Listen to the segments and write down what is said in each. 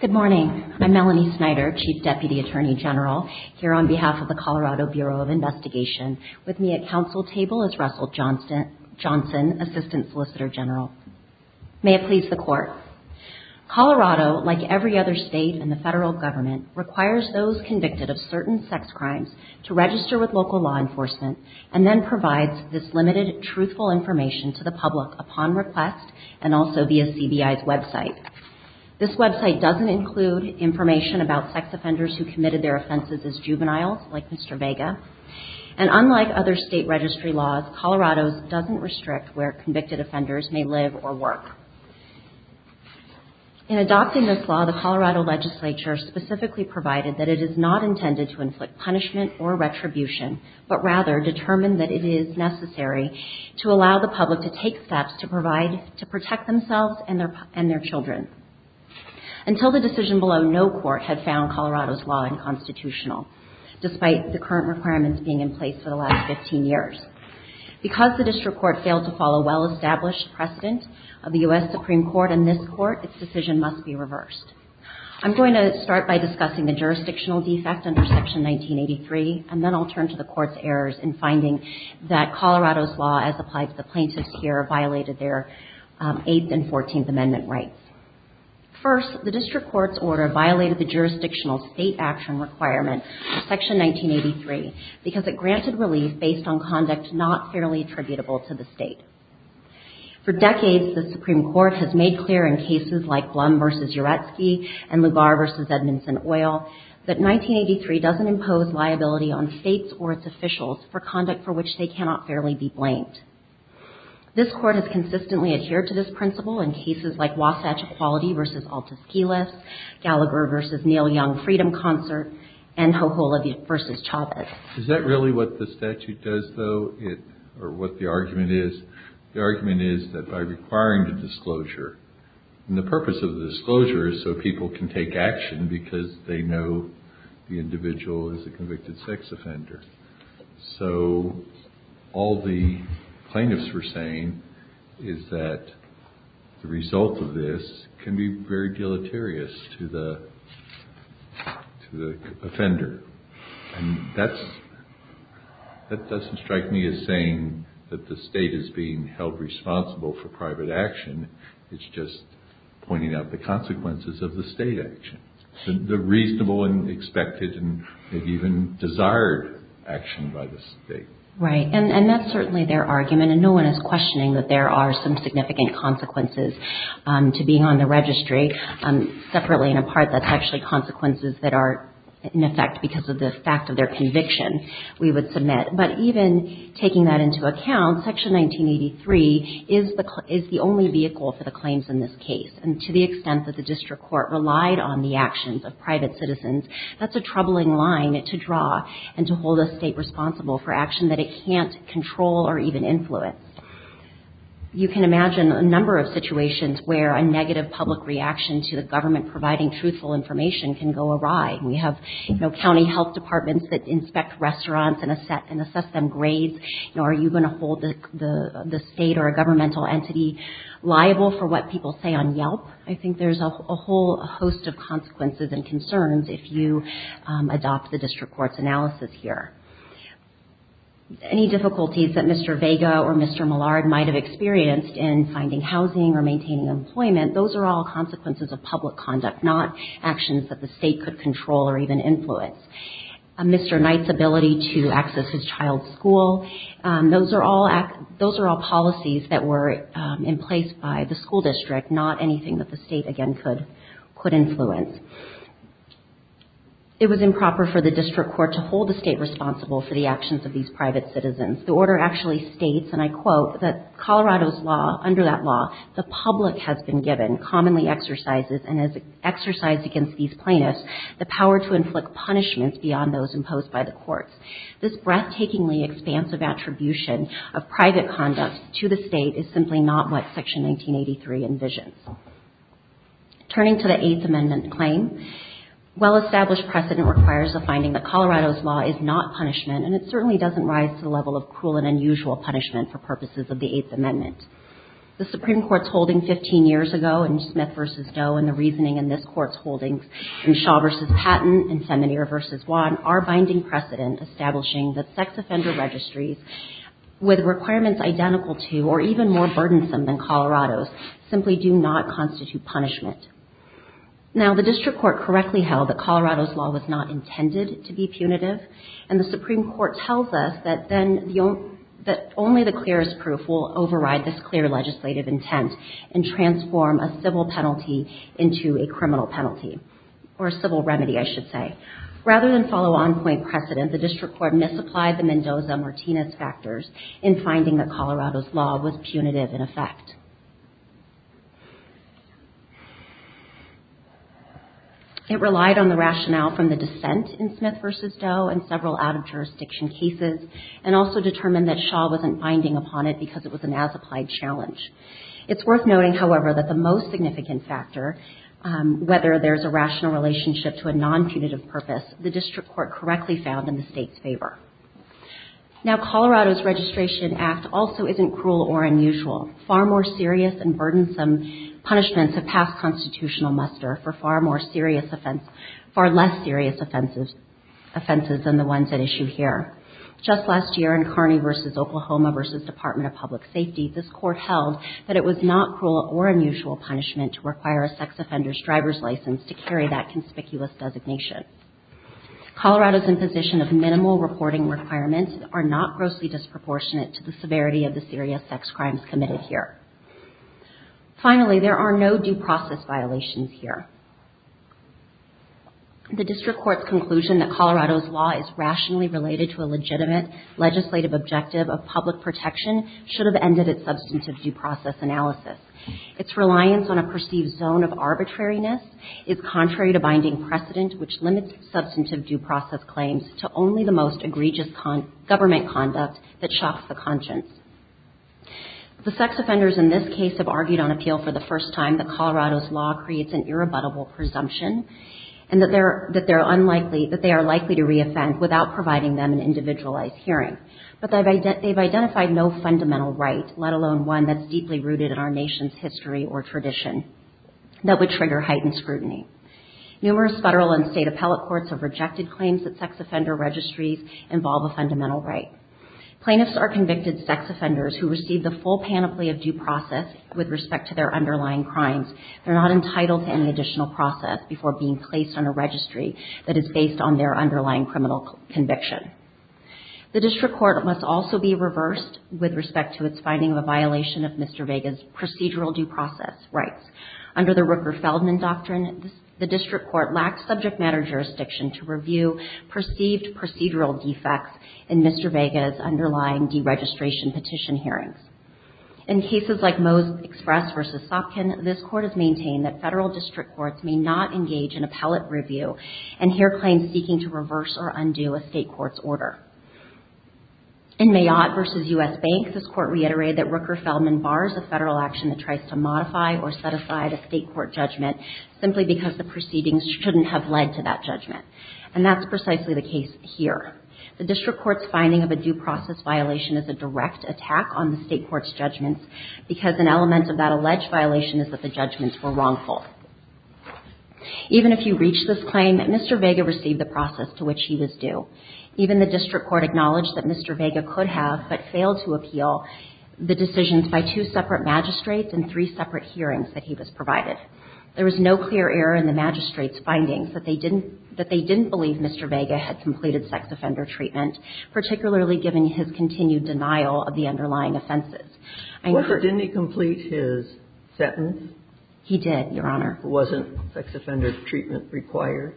Good morning. I'm Melanie Snyder, Chief Deputy Attorney General, here on behalf of the Colorado Bureau of Investigation. With me at council table is Russell Johnson, Assistant Solicitor General. May it please the Court. Colorado, like every other state in the federal government, requires those convicted of certain sex crimes to register with local law enforcement and then provides this limited, truthful information to the public upon request and also via CBI's website. This website doesn't include information about sex offenders who committed their offenses as juveniles, like Mr. Vega. And unlike other state registry laws, Colorado's doesn't restrict where convicted offenders may live or work. In adopting this law, the Colorado Legislature specifically provided that it is not intended to inflict punishment or retribution, but rather determined that it is necessary to allow the public to take steps to protect themselves and their children. Until the decision below, no court had found Colorado's law unconstitutional, despite the current requirements being in place for the last 15 years. Because the district court failed to follow well-established precedent of the U.S. Supreme Court and this court, its decision must be reversed. I'm going to start by discussing the jurisdictional defect under Section 1983, and then I'll turn to the Court's errors in finding that Colorado's law, as applied to the plaintiffs here, violated their Eighth and Fourteenth Amendment rights. First, the district court's order violated the jurisdictional state action requirement for Section 1983 because it granted relief based on conduct not fairly attributable to the state. For decades, the Supreme Court has made clear in cases like Blum v. Uretzky and Lugar v. Edmondson-Oyl that 1983 doesn't impose liability on states or its officials for conduct for which they cannot fairly be blamed. This court has consistently adhered to this principle in cases like Wasatch Equality v. Altus-Keyless, Gallagher v. Neil Young Freedom Concert, and Hoholev v. Chavez. Is that really what the statute does, though, or what the argument is? The argument is that by requiring the disclosure, and the purpose of the disclosure is so people can take action because they know the individual is a convicted sex offender. So all the plaintiffs were saying is that the result of this can be very deleterious to the offender. And that doesn't strike me as saying that the state is being held responsible for private action. It's just pointing out the consequences of the state action, the reasonable and expected and maybe even desired action by the state. Right. And that's certainly their argument, and no one is questioning that there are some significant consequences to being on the registry. Separately and apart, that's actually consequences that are, in effect, because of the fact of their conviction, we would submit. But even taking that into account, Section 1983 is the only vehicle for the claims in this case. And to the extent that the district court relied on the actions of private citizens, that's a troubling line to draw and to hold a state responsible for action that it can't control or even influence. You can imagine a number of situations where a negative public reaction to the government providing truthful information can go awry. We have county health departments that inspect restaurants and assess them grades. Are you going to hold the state or a governmental entity liable for what people say on Yelp? I think there's a whole host of consequences and concerns if you adopt the district court's analysis here. Any difficulties that Mr. Vega or Mr. Millard might have experienced in finding housing or maintaining employment, those are all consequences of public conduct, not actions that the state could control or even influence. Mr. Knight's ability to access his child's school, those are all policies that were in place by the school district, not anything that the state, again, could influence. It was improper for the district court to hold the state responsible for the actions of these private citizens. The order actually states, and I quote, that Colorado's law, the public has been given, commonly exercises, and has exercised against these plaintiffs, the power to inflict punishments beyond those imposed by the courts. This breathtakingly expansive attribution of private conduct to the state is simply not what Section 1983 envisions. Turning to the Eighth Amendment claim, well-established precedent requires a finding that Colorado's law is not punishment, and it certainly doesn't rise to the level of cruel and unusual punishment for purposes of the Eighth Amendment. The Supreme Court's holding 15 years ago in Smith v. Doe and the reasoning in this Court's holdings in Shaw v. Patton and Seminier v. Wan are binding precedent establishing that sex offender registries, with requirements identical to or even more burdensome than Colorado's, simply do not constitute punishment. Now the district court correctly held that Colorado's law was not intended to be punitive, and the Supreme Court tells us that only the clearest proof will override this clear legislative intent and transform a civil penalty into a criminal penalty, or a civil remedy, I should say. Rather than follow on-point precedent, the district court misapplied the Mendoza-Martinez factors in finding that Colorado's law was punitive in effect. It relied on the rationale from the dissent in Smith v. Doe and several out-of-jurisdiction cases, and also determined that Shaw wasn't binding upon it because it was an as-applied challenge. It's worth noting, however, that the most significant factor, whether there's a rational relationship to a non-punitive purpose, the district court correctly found in the state's favor. Now Colorado's registration act also isn't cruel or unusual. Far more serious and burdensome punishments have passed constitutional muster for far less serious offenses than the ones at issue here. Just last year in Kearney v. Oklahoma v. Department of Public Safety, this court held that it was not cruel or unusual punishment to require a sex offender's driver's identification. Colorado's imposition of minimal reporting requirements are not grossly disproportionate to the severity of the serious sex crimes committed here. Finally, there are no due process violations here. The district court's conclusion that Colorado's law is rationally related to a legitimate legislative objective of public protection should have ended its substantive due process analysis. Its reliance on a perceived zone of arbitrariness is contrary to binding precedent, which limits substantive due process claims to only the most egregious government conduct that shocks the conscience. The sex offenders in this case have argued on appeal for the first time that Colorado's law creates an irrebuttable presumption and that they are likely to re-offend without providing them an individualized hearing. But they've identified no fundamental right, let alone one that's deeply rooted in our nation's history or tradition, that would trigger heightened scrutiny. Numerous federal and state appellate courts have rejected claims that sex offender registries involve a fundamental right. Plaintiffs are convicted sex offenders who receive the full panoply of due process with respect to their underlying crimes. They are not entitled to any additional process before being placed on a registry that is based on their underlying criminal conviction. The district court must also be reversed with respect to its finding of a violation of Mr. Vega's procedural due process rights. Under the Rooker-Feldman Doctrine, the district court lacks subject matter jurisdiction to review perceived procedural defects in Mr. Vega's underlying deregistration petition hearings. In cases like Moe's Express v. Sopkin, this court has maintained that federal district courts may not engage in appellate review and hear claims seeking to reverse or undo a state court's order. In Mayotte v. U.S. Bank, this court reiterated that Rooker-Feldman bars a federal action that tries to modify or set aside a state court judgment simply because the proceedings shouldn't have led to that judgment. And that's precisely the case here. The district court's finding of a due process violation is a direct attack on the state court's judgments because an element of that alleged violation is that the judgments were wrongful. Even if you reach this claim, Mr. Vega received the process to which he was due. Even the district court acknowledged that Mr. Vega could have, but failed to appeal, the decisions by two separate magistrates and three separate hearings that he was provided. There was no clear error in the magistrates' findings that they didn't believe Mr. Vega had completed sex offender treatment, particularly given his continued denial of the underlying offenses. I know that he was not. Robert, didn't he complete his sentence? He did, Your Honor. Wasn't sex offender treatment required?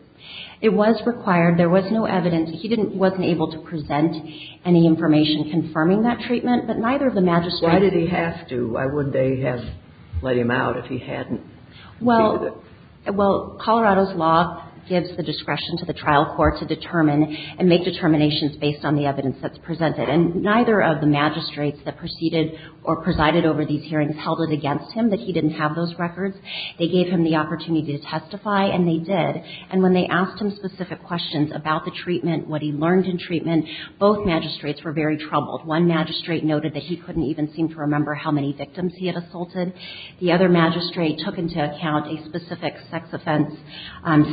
It was required. There was no evidence. He didn't – wasn't able to present any information confirming that treatment, but neither of the magistrates – Why did he have to? Why wouldn't they have let him out if he hadn't completed it? Well, Colorado's law gives the discretion to the trial court to determine and make determinations based on the evidence that's presented. And neither of the magistrates that proceeded or presided over these hearings held it against him that he didn't have those records. They gave him the opportunity to testify, and they did. And when they asked him specific questions about the treatment, what he learned in treatment, both magistrates were very troubled. One magistrate noted that he couldn't even seem to remember how many victims he had assaulted. The other magistrate took into account a specific sex offense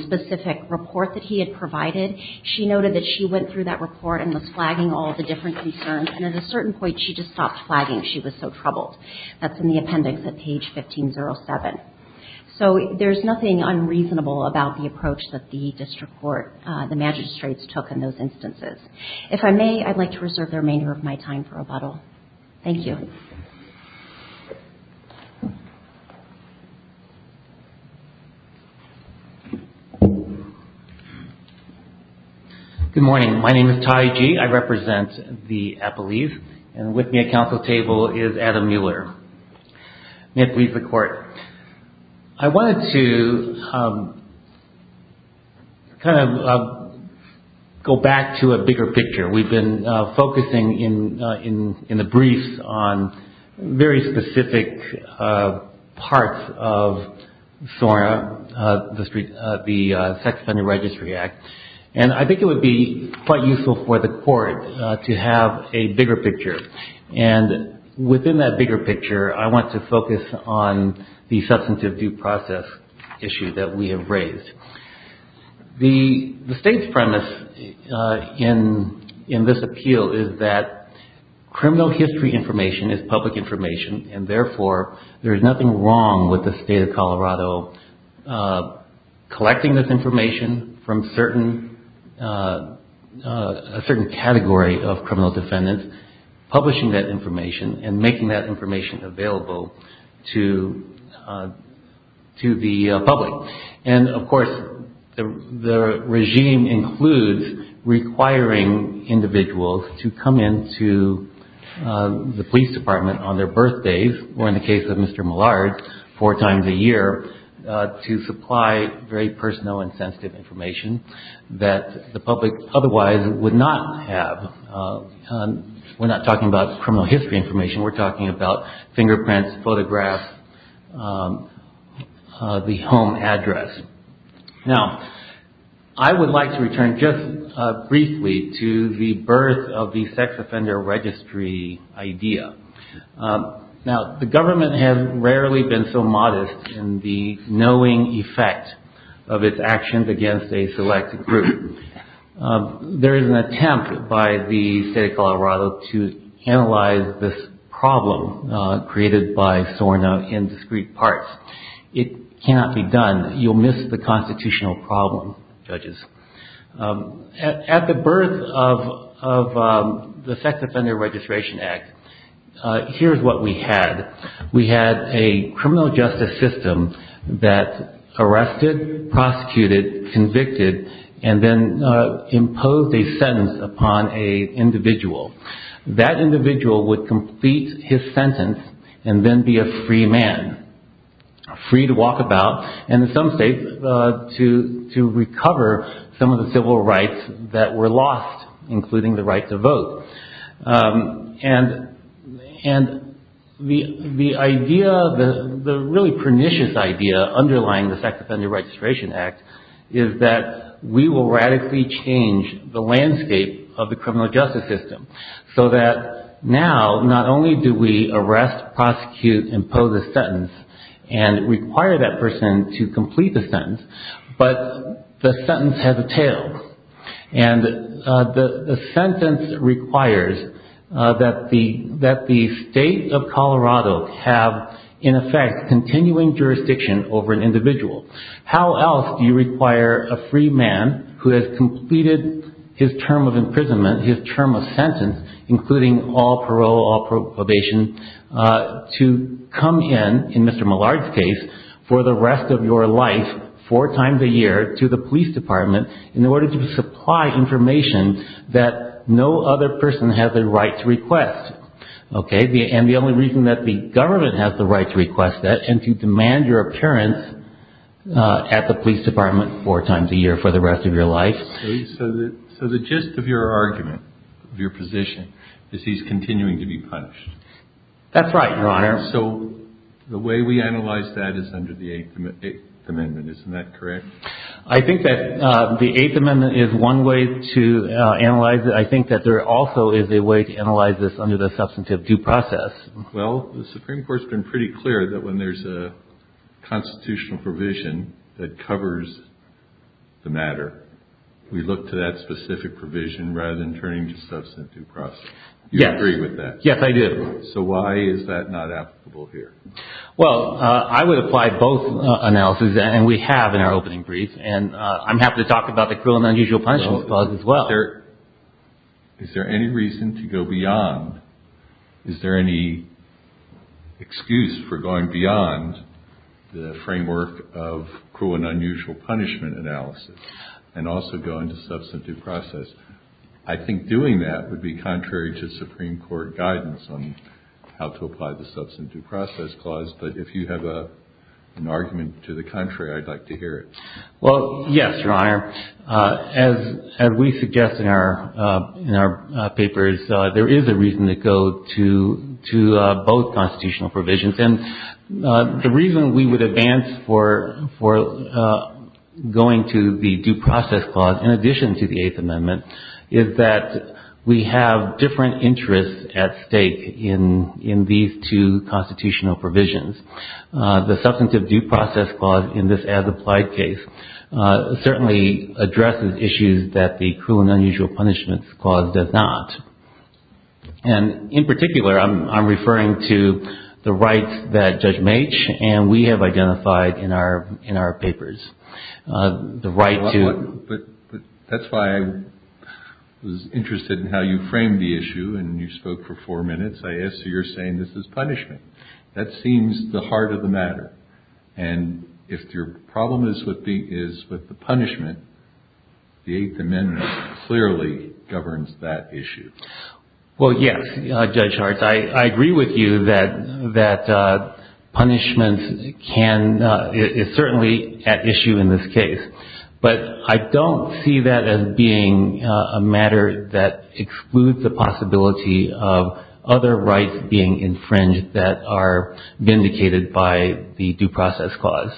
specific report that he had provided. She noted that she went through that report and was flagging all the different concerns. And at a certain point, she just stopped flagging she was so troubled. That's in the appendix at page 1507. So, there's nothing unreasonable about the approach that the district court – the magistrates took in those instances. If I may, I'd like to reserve the remainder of my time for rebuttal. Thank you. Good morning. My name is Ty Gee. I represent the Appalachians. And with me at council table is Adam Mueller, deputy of the court. I wanted to kind of go back to a bigger picture. We've been focusing in the briefs on very specific parts of SORA, the Sex Offender Registry Act. I think it would be quite useful for the court to have a bigger picture. Within that bigger picture, I want to focus on the substantive due process issue that we have raised. The state's premise in this appeal is that criminal history information is public information and therefore, there's nothing wrong with the state of Colorado collecting this information from a certain category of criminal defendants, publishing that information and making that information available to the public. And of course, the regime includes requiring individuals to come into the police department on their birthdays or in the case of Mr. Millard, four years of age, to come into the police department on their birthdays. So there's a lot of substantive information that the public otherwise would not have. We're not talking about criminal history information. We're talking about fingerprints, photographs, the home address. Now, I would like to return just briefly to the birth of the sex offender registry idea. It stands against a select group. There is an attempt by the state of Colorado to analyze this problem created by SORNA in discrete parts. It cannot be done. You'll miss the constitutional problem, judges. At the birth of the Sex Offender Registration Act, here's what we had. We had a criminal justice system that arrested, prosecuted, convicted, and then imposed a sentence upon an individual. That individual would complete his sentence and then be a free man, free to walk about and in some states to recover some of the civil rights that were lost, including the right to vote. The really pernicious idea underlying the Sex Offender Registration Act is that we will radically change the landscape of the criminal justice system so that now, not only do we arrest, prosecute, impose a sentence and require that person to complete the sentence, but the sentence has a tail. The sentence requires that the state of Colorado have, in effect, continuing jurisdiction over an individual. How else do you require a free man who has completed his term of imprisonment, his term of sentence, including all parole, all probation, to come in, in Mr. Millard's case, for the police department in order to supply information that no other person has a right to request? And the only reason that the government has the right to request that and to demand your appearance at the police department four times a year for the rest of your life? So the gist of your argument, of your position, is he's continuing to be punished. That's right, Your Honor. So the way we analyze that is under the Eighth Amendment, isn't that correct? I think that the Eighth Amendment is one way to analyze it. I think that there also is a way to analyze this under the substantive due process. Well, the Supreme Court's been pretty clear that when there's a constitutional provision that covers the matter, we look to that specific provision rather than turning to substantive due process. You agree with that? Yes, I do. So why is that not applicable here? Well, I would apply both analysis, and we have in our opening brief, and I'm happy to talk about the cruel and unusual punishments clause as well. Is there any reason to go beyond, is there any excuse for going beyond the framework of cruel and unusual punishment analysis and also going to substantive due process? I think doing that would be contrary to Supreme Court guidance on how to apply the substantive due process clause, but if you have an argument to the contrary, I'd like to hear it. Well, yes, Your Honor. As we suggest in our papers, there is a reason to go to both constitutional provisions. And the reason we would advance for going to the due process clause in addition to the Eighth Amendment is that we have different interests at stake in these two constitutional provisions. The substantive due process clause in this as-applied case certainly addresses issues that the cruel and unusual punishments clause does not. And in particular, I'm referring to the rights that Judge Maitch and we have identified in our papers. The right to But that's why I was interested in how you framed the issue, and you spoke for four minutes. I asked you, you're saying this is punishment. That seems the heart of the matter. And if your problem is with the punishment, the Eighth Amendment clearly governs that issue. Well, yes, Judge Hartz, I agree with you that punishment can, is certainly at issue in this case. But I don't see that as being a matter that excludes the possibility of other rights being infringed that are vindicated by the due process clause.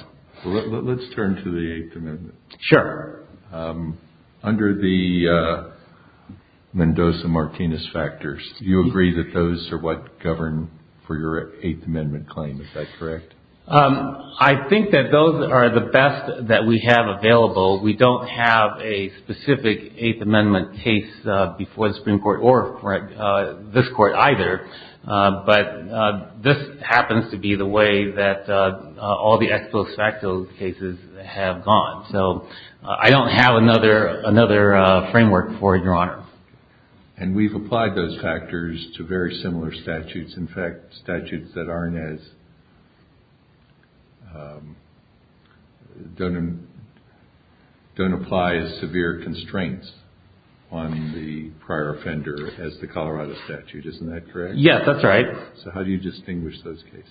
Let's turn to the Eighth Amendment. Sure. Under the Mendoza-Martinez factors, you agree that those are what govern for your Eighth Amendment claim. Is that correct? I think that those are the best that we have available. We don't have a specific Eighth Amendment case before the Supreme Court or this Court either. But this happens to be the way that all the ex post facto cases have gone. So I don't have another framework for it, Your Honor. And we've applied those factors to very similar statutes. In fact, statutes that aren't as don't apply as severe constraints on the prior offender as the Colorado statute. Isn't that correct? Yes, that's right. So how do you distinguish those cases?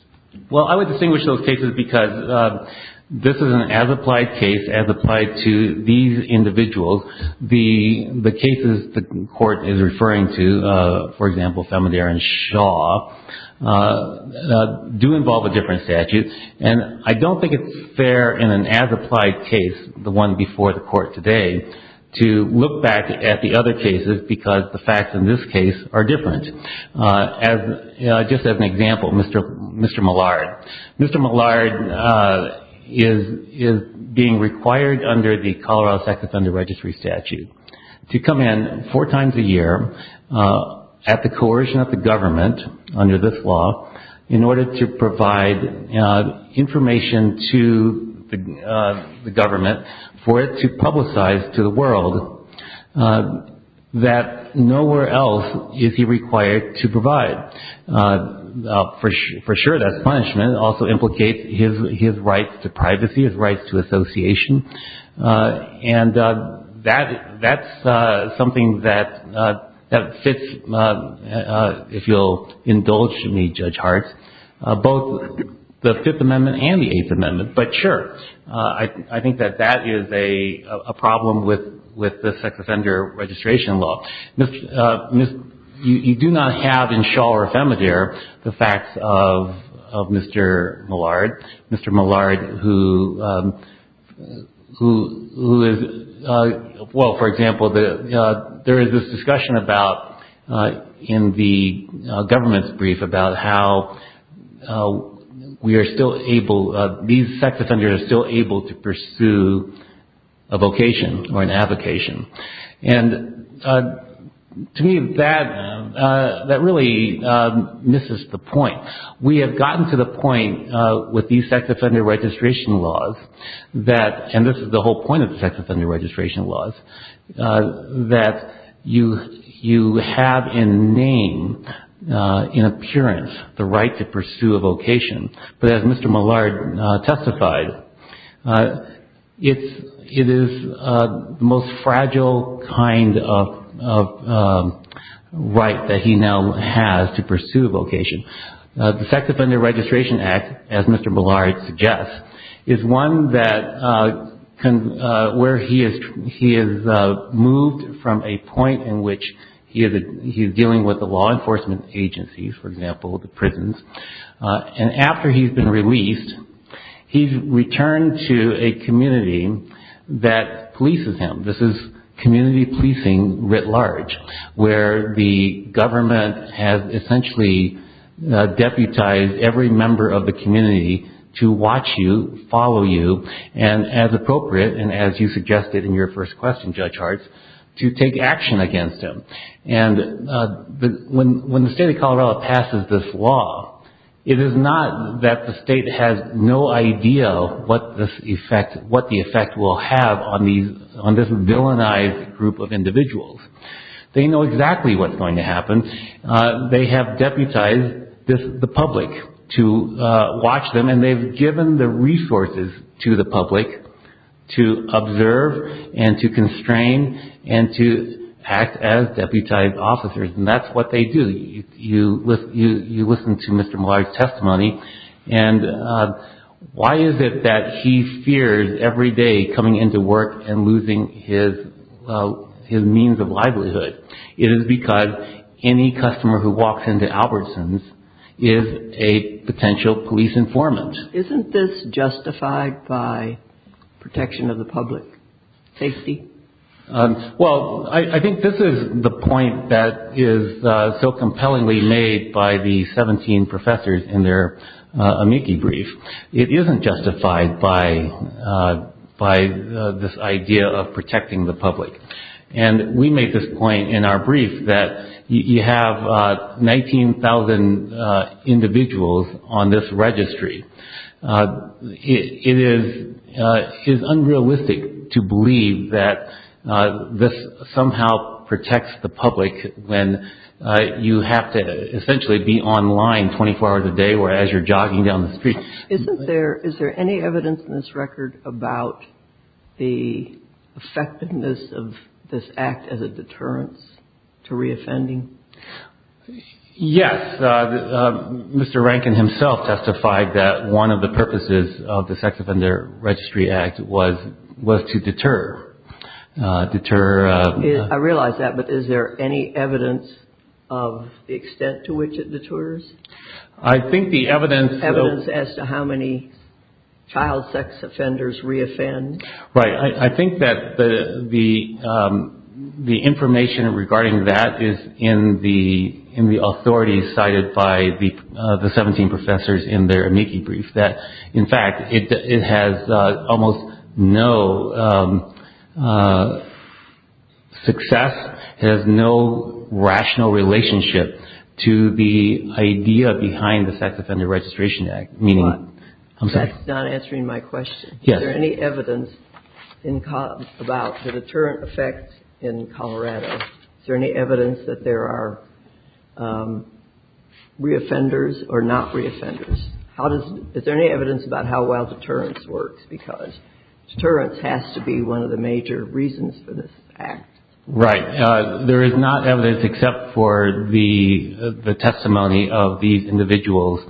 Well, I would distinguish those cases because this is an as-applied case, as applied to these individuals. The cases the Court is referring to, for example, Thelma Darren Shaw, do involve a different statute. And I don't think it's fair in an as-applied case, the one before the Court today, to look back at the other cases because the facts in this case are different. Just as an example, Mr. Millard. Mr. Millard is being required under the Colorado statute under registry statute to come in four times a year at the coercion of the government under this law in order to provide information to the government for it to publicize to the world that nowhere else is he required to provide. For sure that's punishment. It also is a violation of the federal law. And that's something that fits, if you'll indulge me, Judge Hartz, both the Fifth Amendment and the Eighth Amendment. But sure, I think that that is a problem with the sex offender registration law. You do not have in Shaw or Femidaire the facts of Mr. Millard. Mr. Millard, who is being charged, who is, well, for example, there is this discussion about in the government's brief about how we are still able, these sex offenders are still able to pursue a vocation or an application. And to me that really misses the point. We have gotten to the point with these sex offender registration laws that, and this is the whole point of the sex offender registration laws, that you have in name, in appearance, the right to pursue a vocation. But as Mr. Millard testified, it is the most fragile kind of right that he now has to pursue a vocation. The Sex Offender Registration Act, as Mr. Millard suggests, is one where he has moved from a point in which he is dealing with the law enforcement agencies, for example, the prisons, and after he has been released, he has returned to a community that polices at large, where the government has essentially deputized every member of the community to watch you, follow you, and as appropriate, and as you suggested in your first question, Judge Hartz, to take action against him. And when the state of Colorado passes this law, it is not that the state has no idea what the effect will have on this villainized group of individuals. They know exactly what is going to happen. They have deputized the public to watch them, and they have given the resources to the public to observe, and to constrain, and to act as deputized officers, and that is what they do. You listen to Mr. Millard's testimony, and why is it that he fears, every day, coming into work and losing his job, his means of livelihood? It is because any customer who walks into Albertson's is a potential police informant. Isn't this justified by protection of the public safety? Well, I think this is the point that is so compellingly made by the 17 professors in their amici brief. It isn't justified by this idea of protecting the public. And I think we make this point in our brief that you have 19,000 individuals on this registry. It is unrealistic to believe that this somehow protects the public when you have to essentially be online 24 hours a day or as you're jogging down the street. Is there any evidence in this record about the effectiveness of this act as a deterrence to re-offending? Yes. Mr. Rankin himself testified that one of the purposes of the Sex Offender Registry Act was to deter. I realize that, but is there any evidence of the extent to which it deters? I think the evidence... Evidence as to how many child sex offenders re-offend? Right. I think that the information regarding that is in the authority cited by the 17 professors in their amici brief. In fact, it has almost no success. It has no rational relationship to the idea behind the Sex Offender Registration Act. That's not answering my question. Is there any evidence about the deterrent effect in Colorado? Is there any evidence that there are re-offenders or not re-offenders? Is there any evidence about how well deterrence works? Because deterrence has to be one of the major reasons for this act. Right. There is not evidence except for the testimony of these individuals,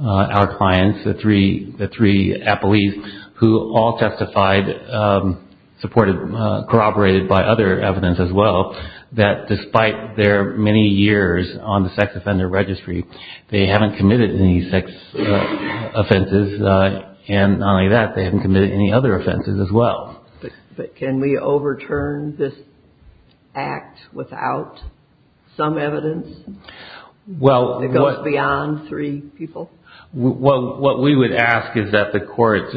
our clients, the three appellees, who all testified, corroborated by other evidence as well, that despite their many years on the Sex Offender Registry, they haven't committed any sex offenses, and not only that, they haven't committed any other offenses as well. Can we overturn this act without some evidence that goes beyond three people? What we would ask is that the court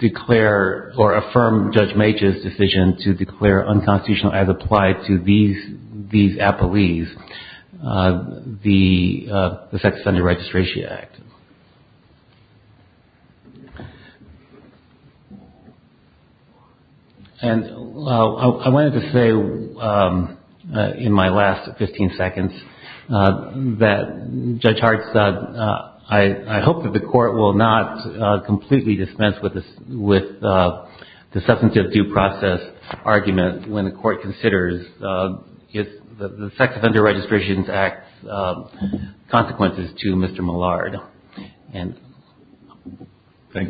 declare or affirm Judge Mages' decision to declare unconstitutional, as applied to these appellees, the Sex Offender Registration Act. I wanted to say in my last 15 seconds that Judge Hart said, I hope that the court will not completely dispense with the substantive due process argument when the court considers the Sex Offender Registration Act's consequences to Mr. Millard. I'd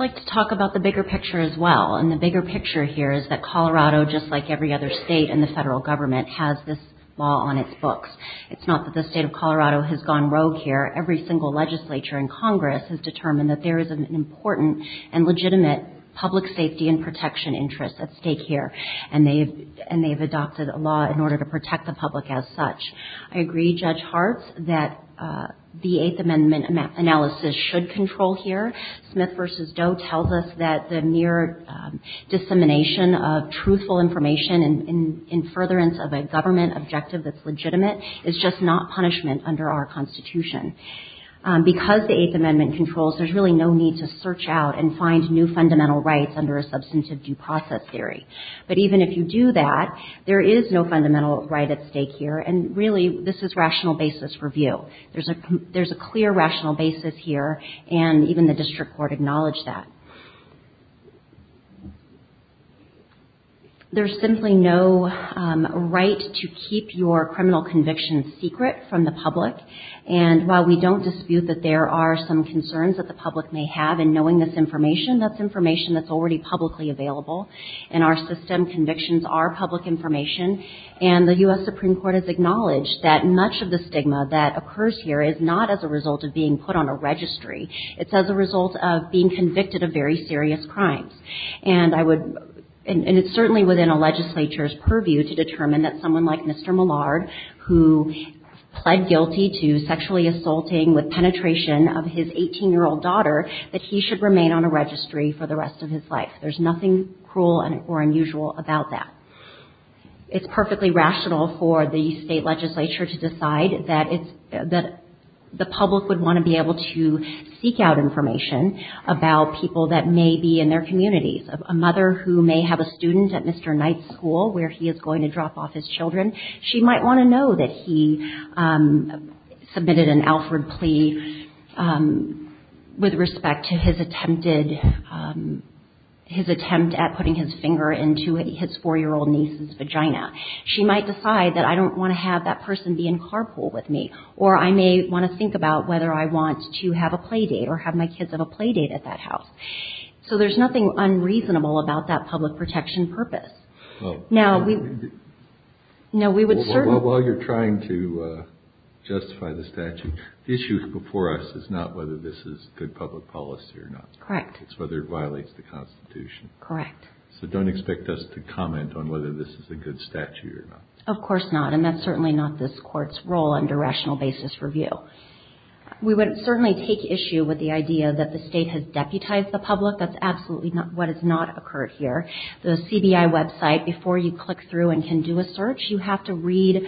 like to talk about the bigger picture as well, and the bigger picture here is that Colorado, just like every other state in the federal government, has this law on its books. It's not that the state of Colorado has gone rogue here. Every single legislature in Congress has determined that there is an important and legitimate public safety and protection interest at stake here, and they've adopted a law in order to protect the public as such. I agree, Judge Hart, that the Eighth Amendment analysis should control here. Smith v. Doe tells us that the mere dissemination of truthful information in furtherance of a government objective that's legitimate is just not punishment under our Constitution. Because the Eighth Amendment controls, there's really no need to search out and find new fundamental rights under a substantive due process theory. But even if you do that, there is no fundamental right at stake here, and really, this is rational basis for view. There's a clear rational basis here, and even the district court acknowledged that. There's simply no right to keep your criminal convictions secret from the public, and while we don't dispute that there are some concerns that the public may have in knowing this information, that's information that's already publicly available, and our system convictions are public information, and the U.S. Supreme Court has acknowledged that much of the stigma that occurs here is not as a result of being put on a registry. It's as a result of being convicted of very serious crimes, and it's certainly within a legislature's purview to determine that someone like Mr. Millard, who pled guilty to sexually assaulting with penetration of his 18-year-old daughter, that he should remain on a registry for the rest of his life. There's nothing cruel or unusual about that. It's perfectly rational for the state legislature to decide that the public would want to be able to seek out information about people that may be in their communities. A mother who may have a student at Mr. Knight's school where he is going to drop off his children, she might want to know that he submitted an Alfred plea with respect to his attempt at putting his finger into his 4-year-old niece's vagina. She might decide that I don't want to have that person be in carpool with me, or I may want to think about whether I want to have a play date or have my kids have a play date at that house. So there's nothing unreasonable about that public protection purpose. Now, we would certainly... Well, while you're trying to justify the statute, the issue before us is not whether this is good public policy or not. Correct. It's whether it violates the Constitution. Correct. So don't expect us to comment on whether this is a good statute or not. Of course not, and that's certainly not this Court's role under rational basis review. We would certainly take issue with the idea that the state has deputized the public. That's absolutely not what has not occurred here. The CBI website, before you click through and can do a search, you have to read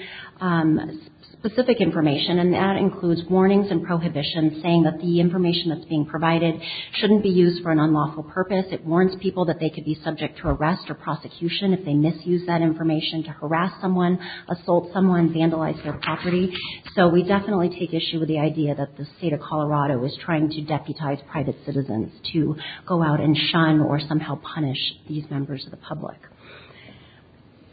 specific information, and that includes warnings and prohibitions saying that the information that's being provided shouldn't be used for an unlawful purpose. It warns people that they could be subject to arrest or prosecution if they misuse that information to harass someone, assault someone, vandalize their property. So we definitely take issue with the idea that the state of Colorado is trying to deputize private citizens to go out and shun or somehow punish these members of the public.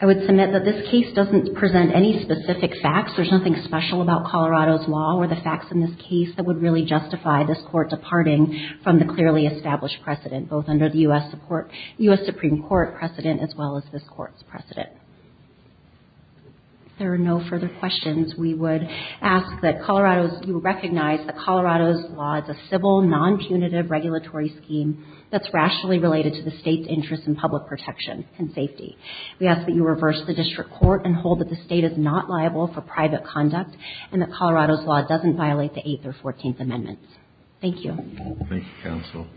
I would submit that this case doesn't present any specific facts. There's nothing special about Colorado's law or the facts in this case that would really justify this Court departing from the clearly established precedent, both under the U.S. Supreme Court precedent as well as this Court's precedent. If there are no further questions, we would ask that Colorado's – you recognize that Colorado's law is a civil, non-punitive regulatory scheme that's rationally related to the state's interest in public protection and safety. We ask that you reverse the district court and hold that the state is not liable for private conduct and that Colorado's law doesn't violate the Eighth or Fourteenth Amendments. Thank you. Thank you, counsel.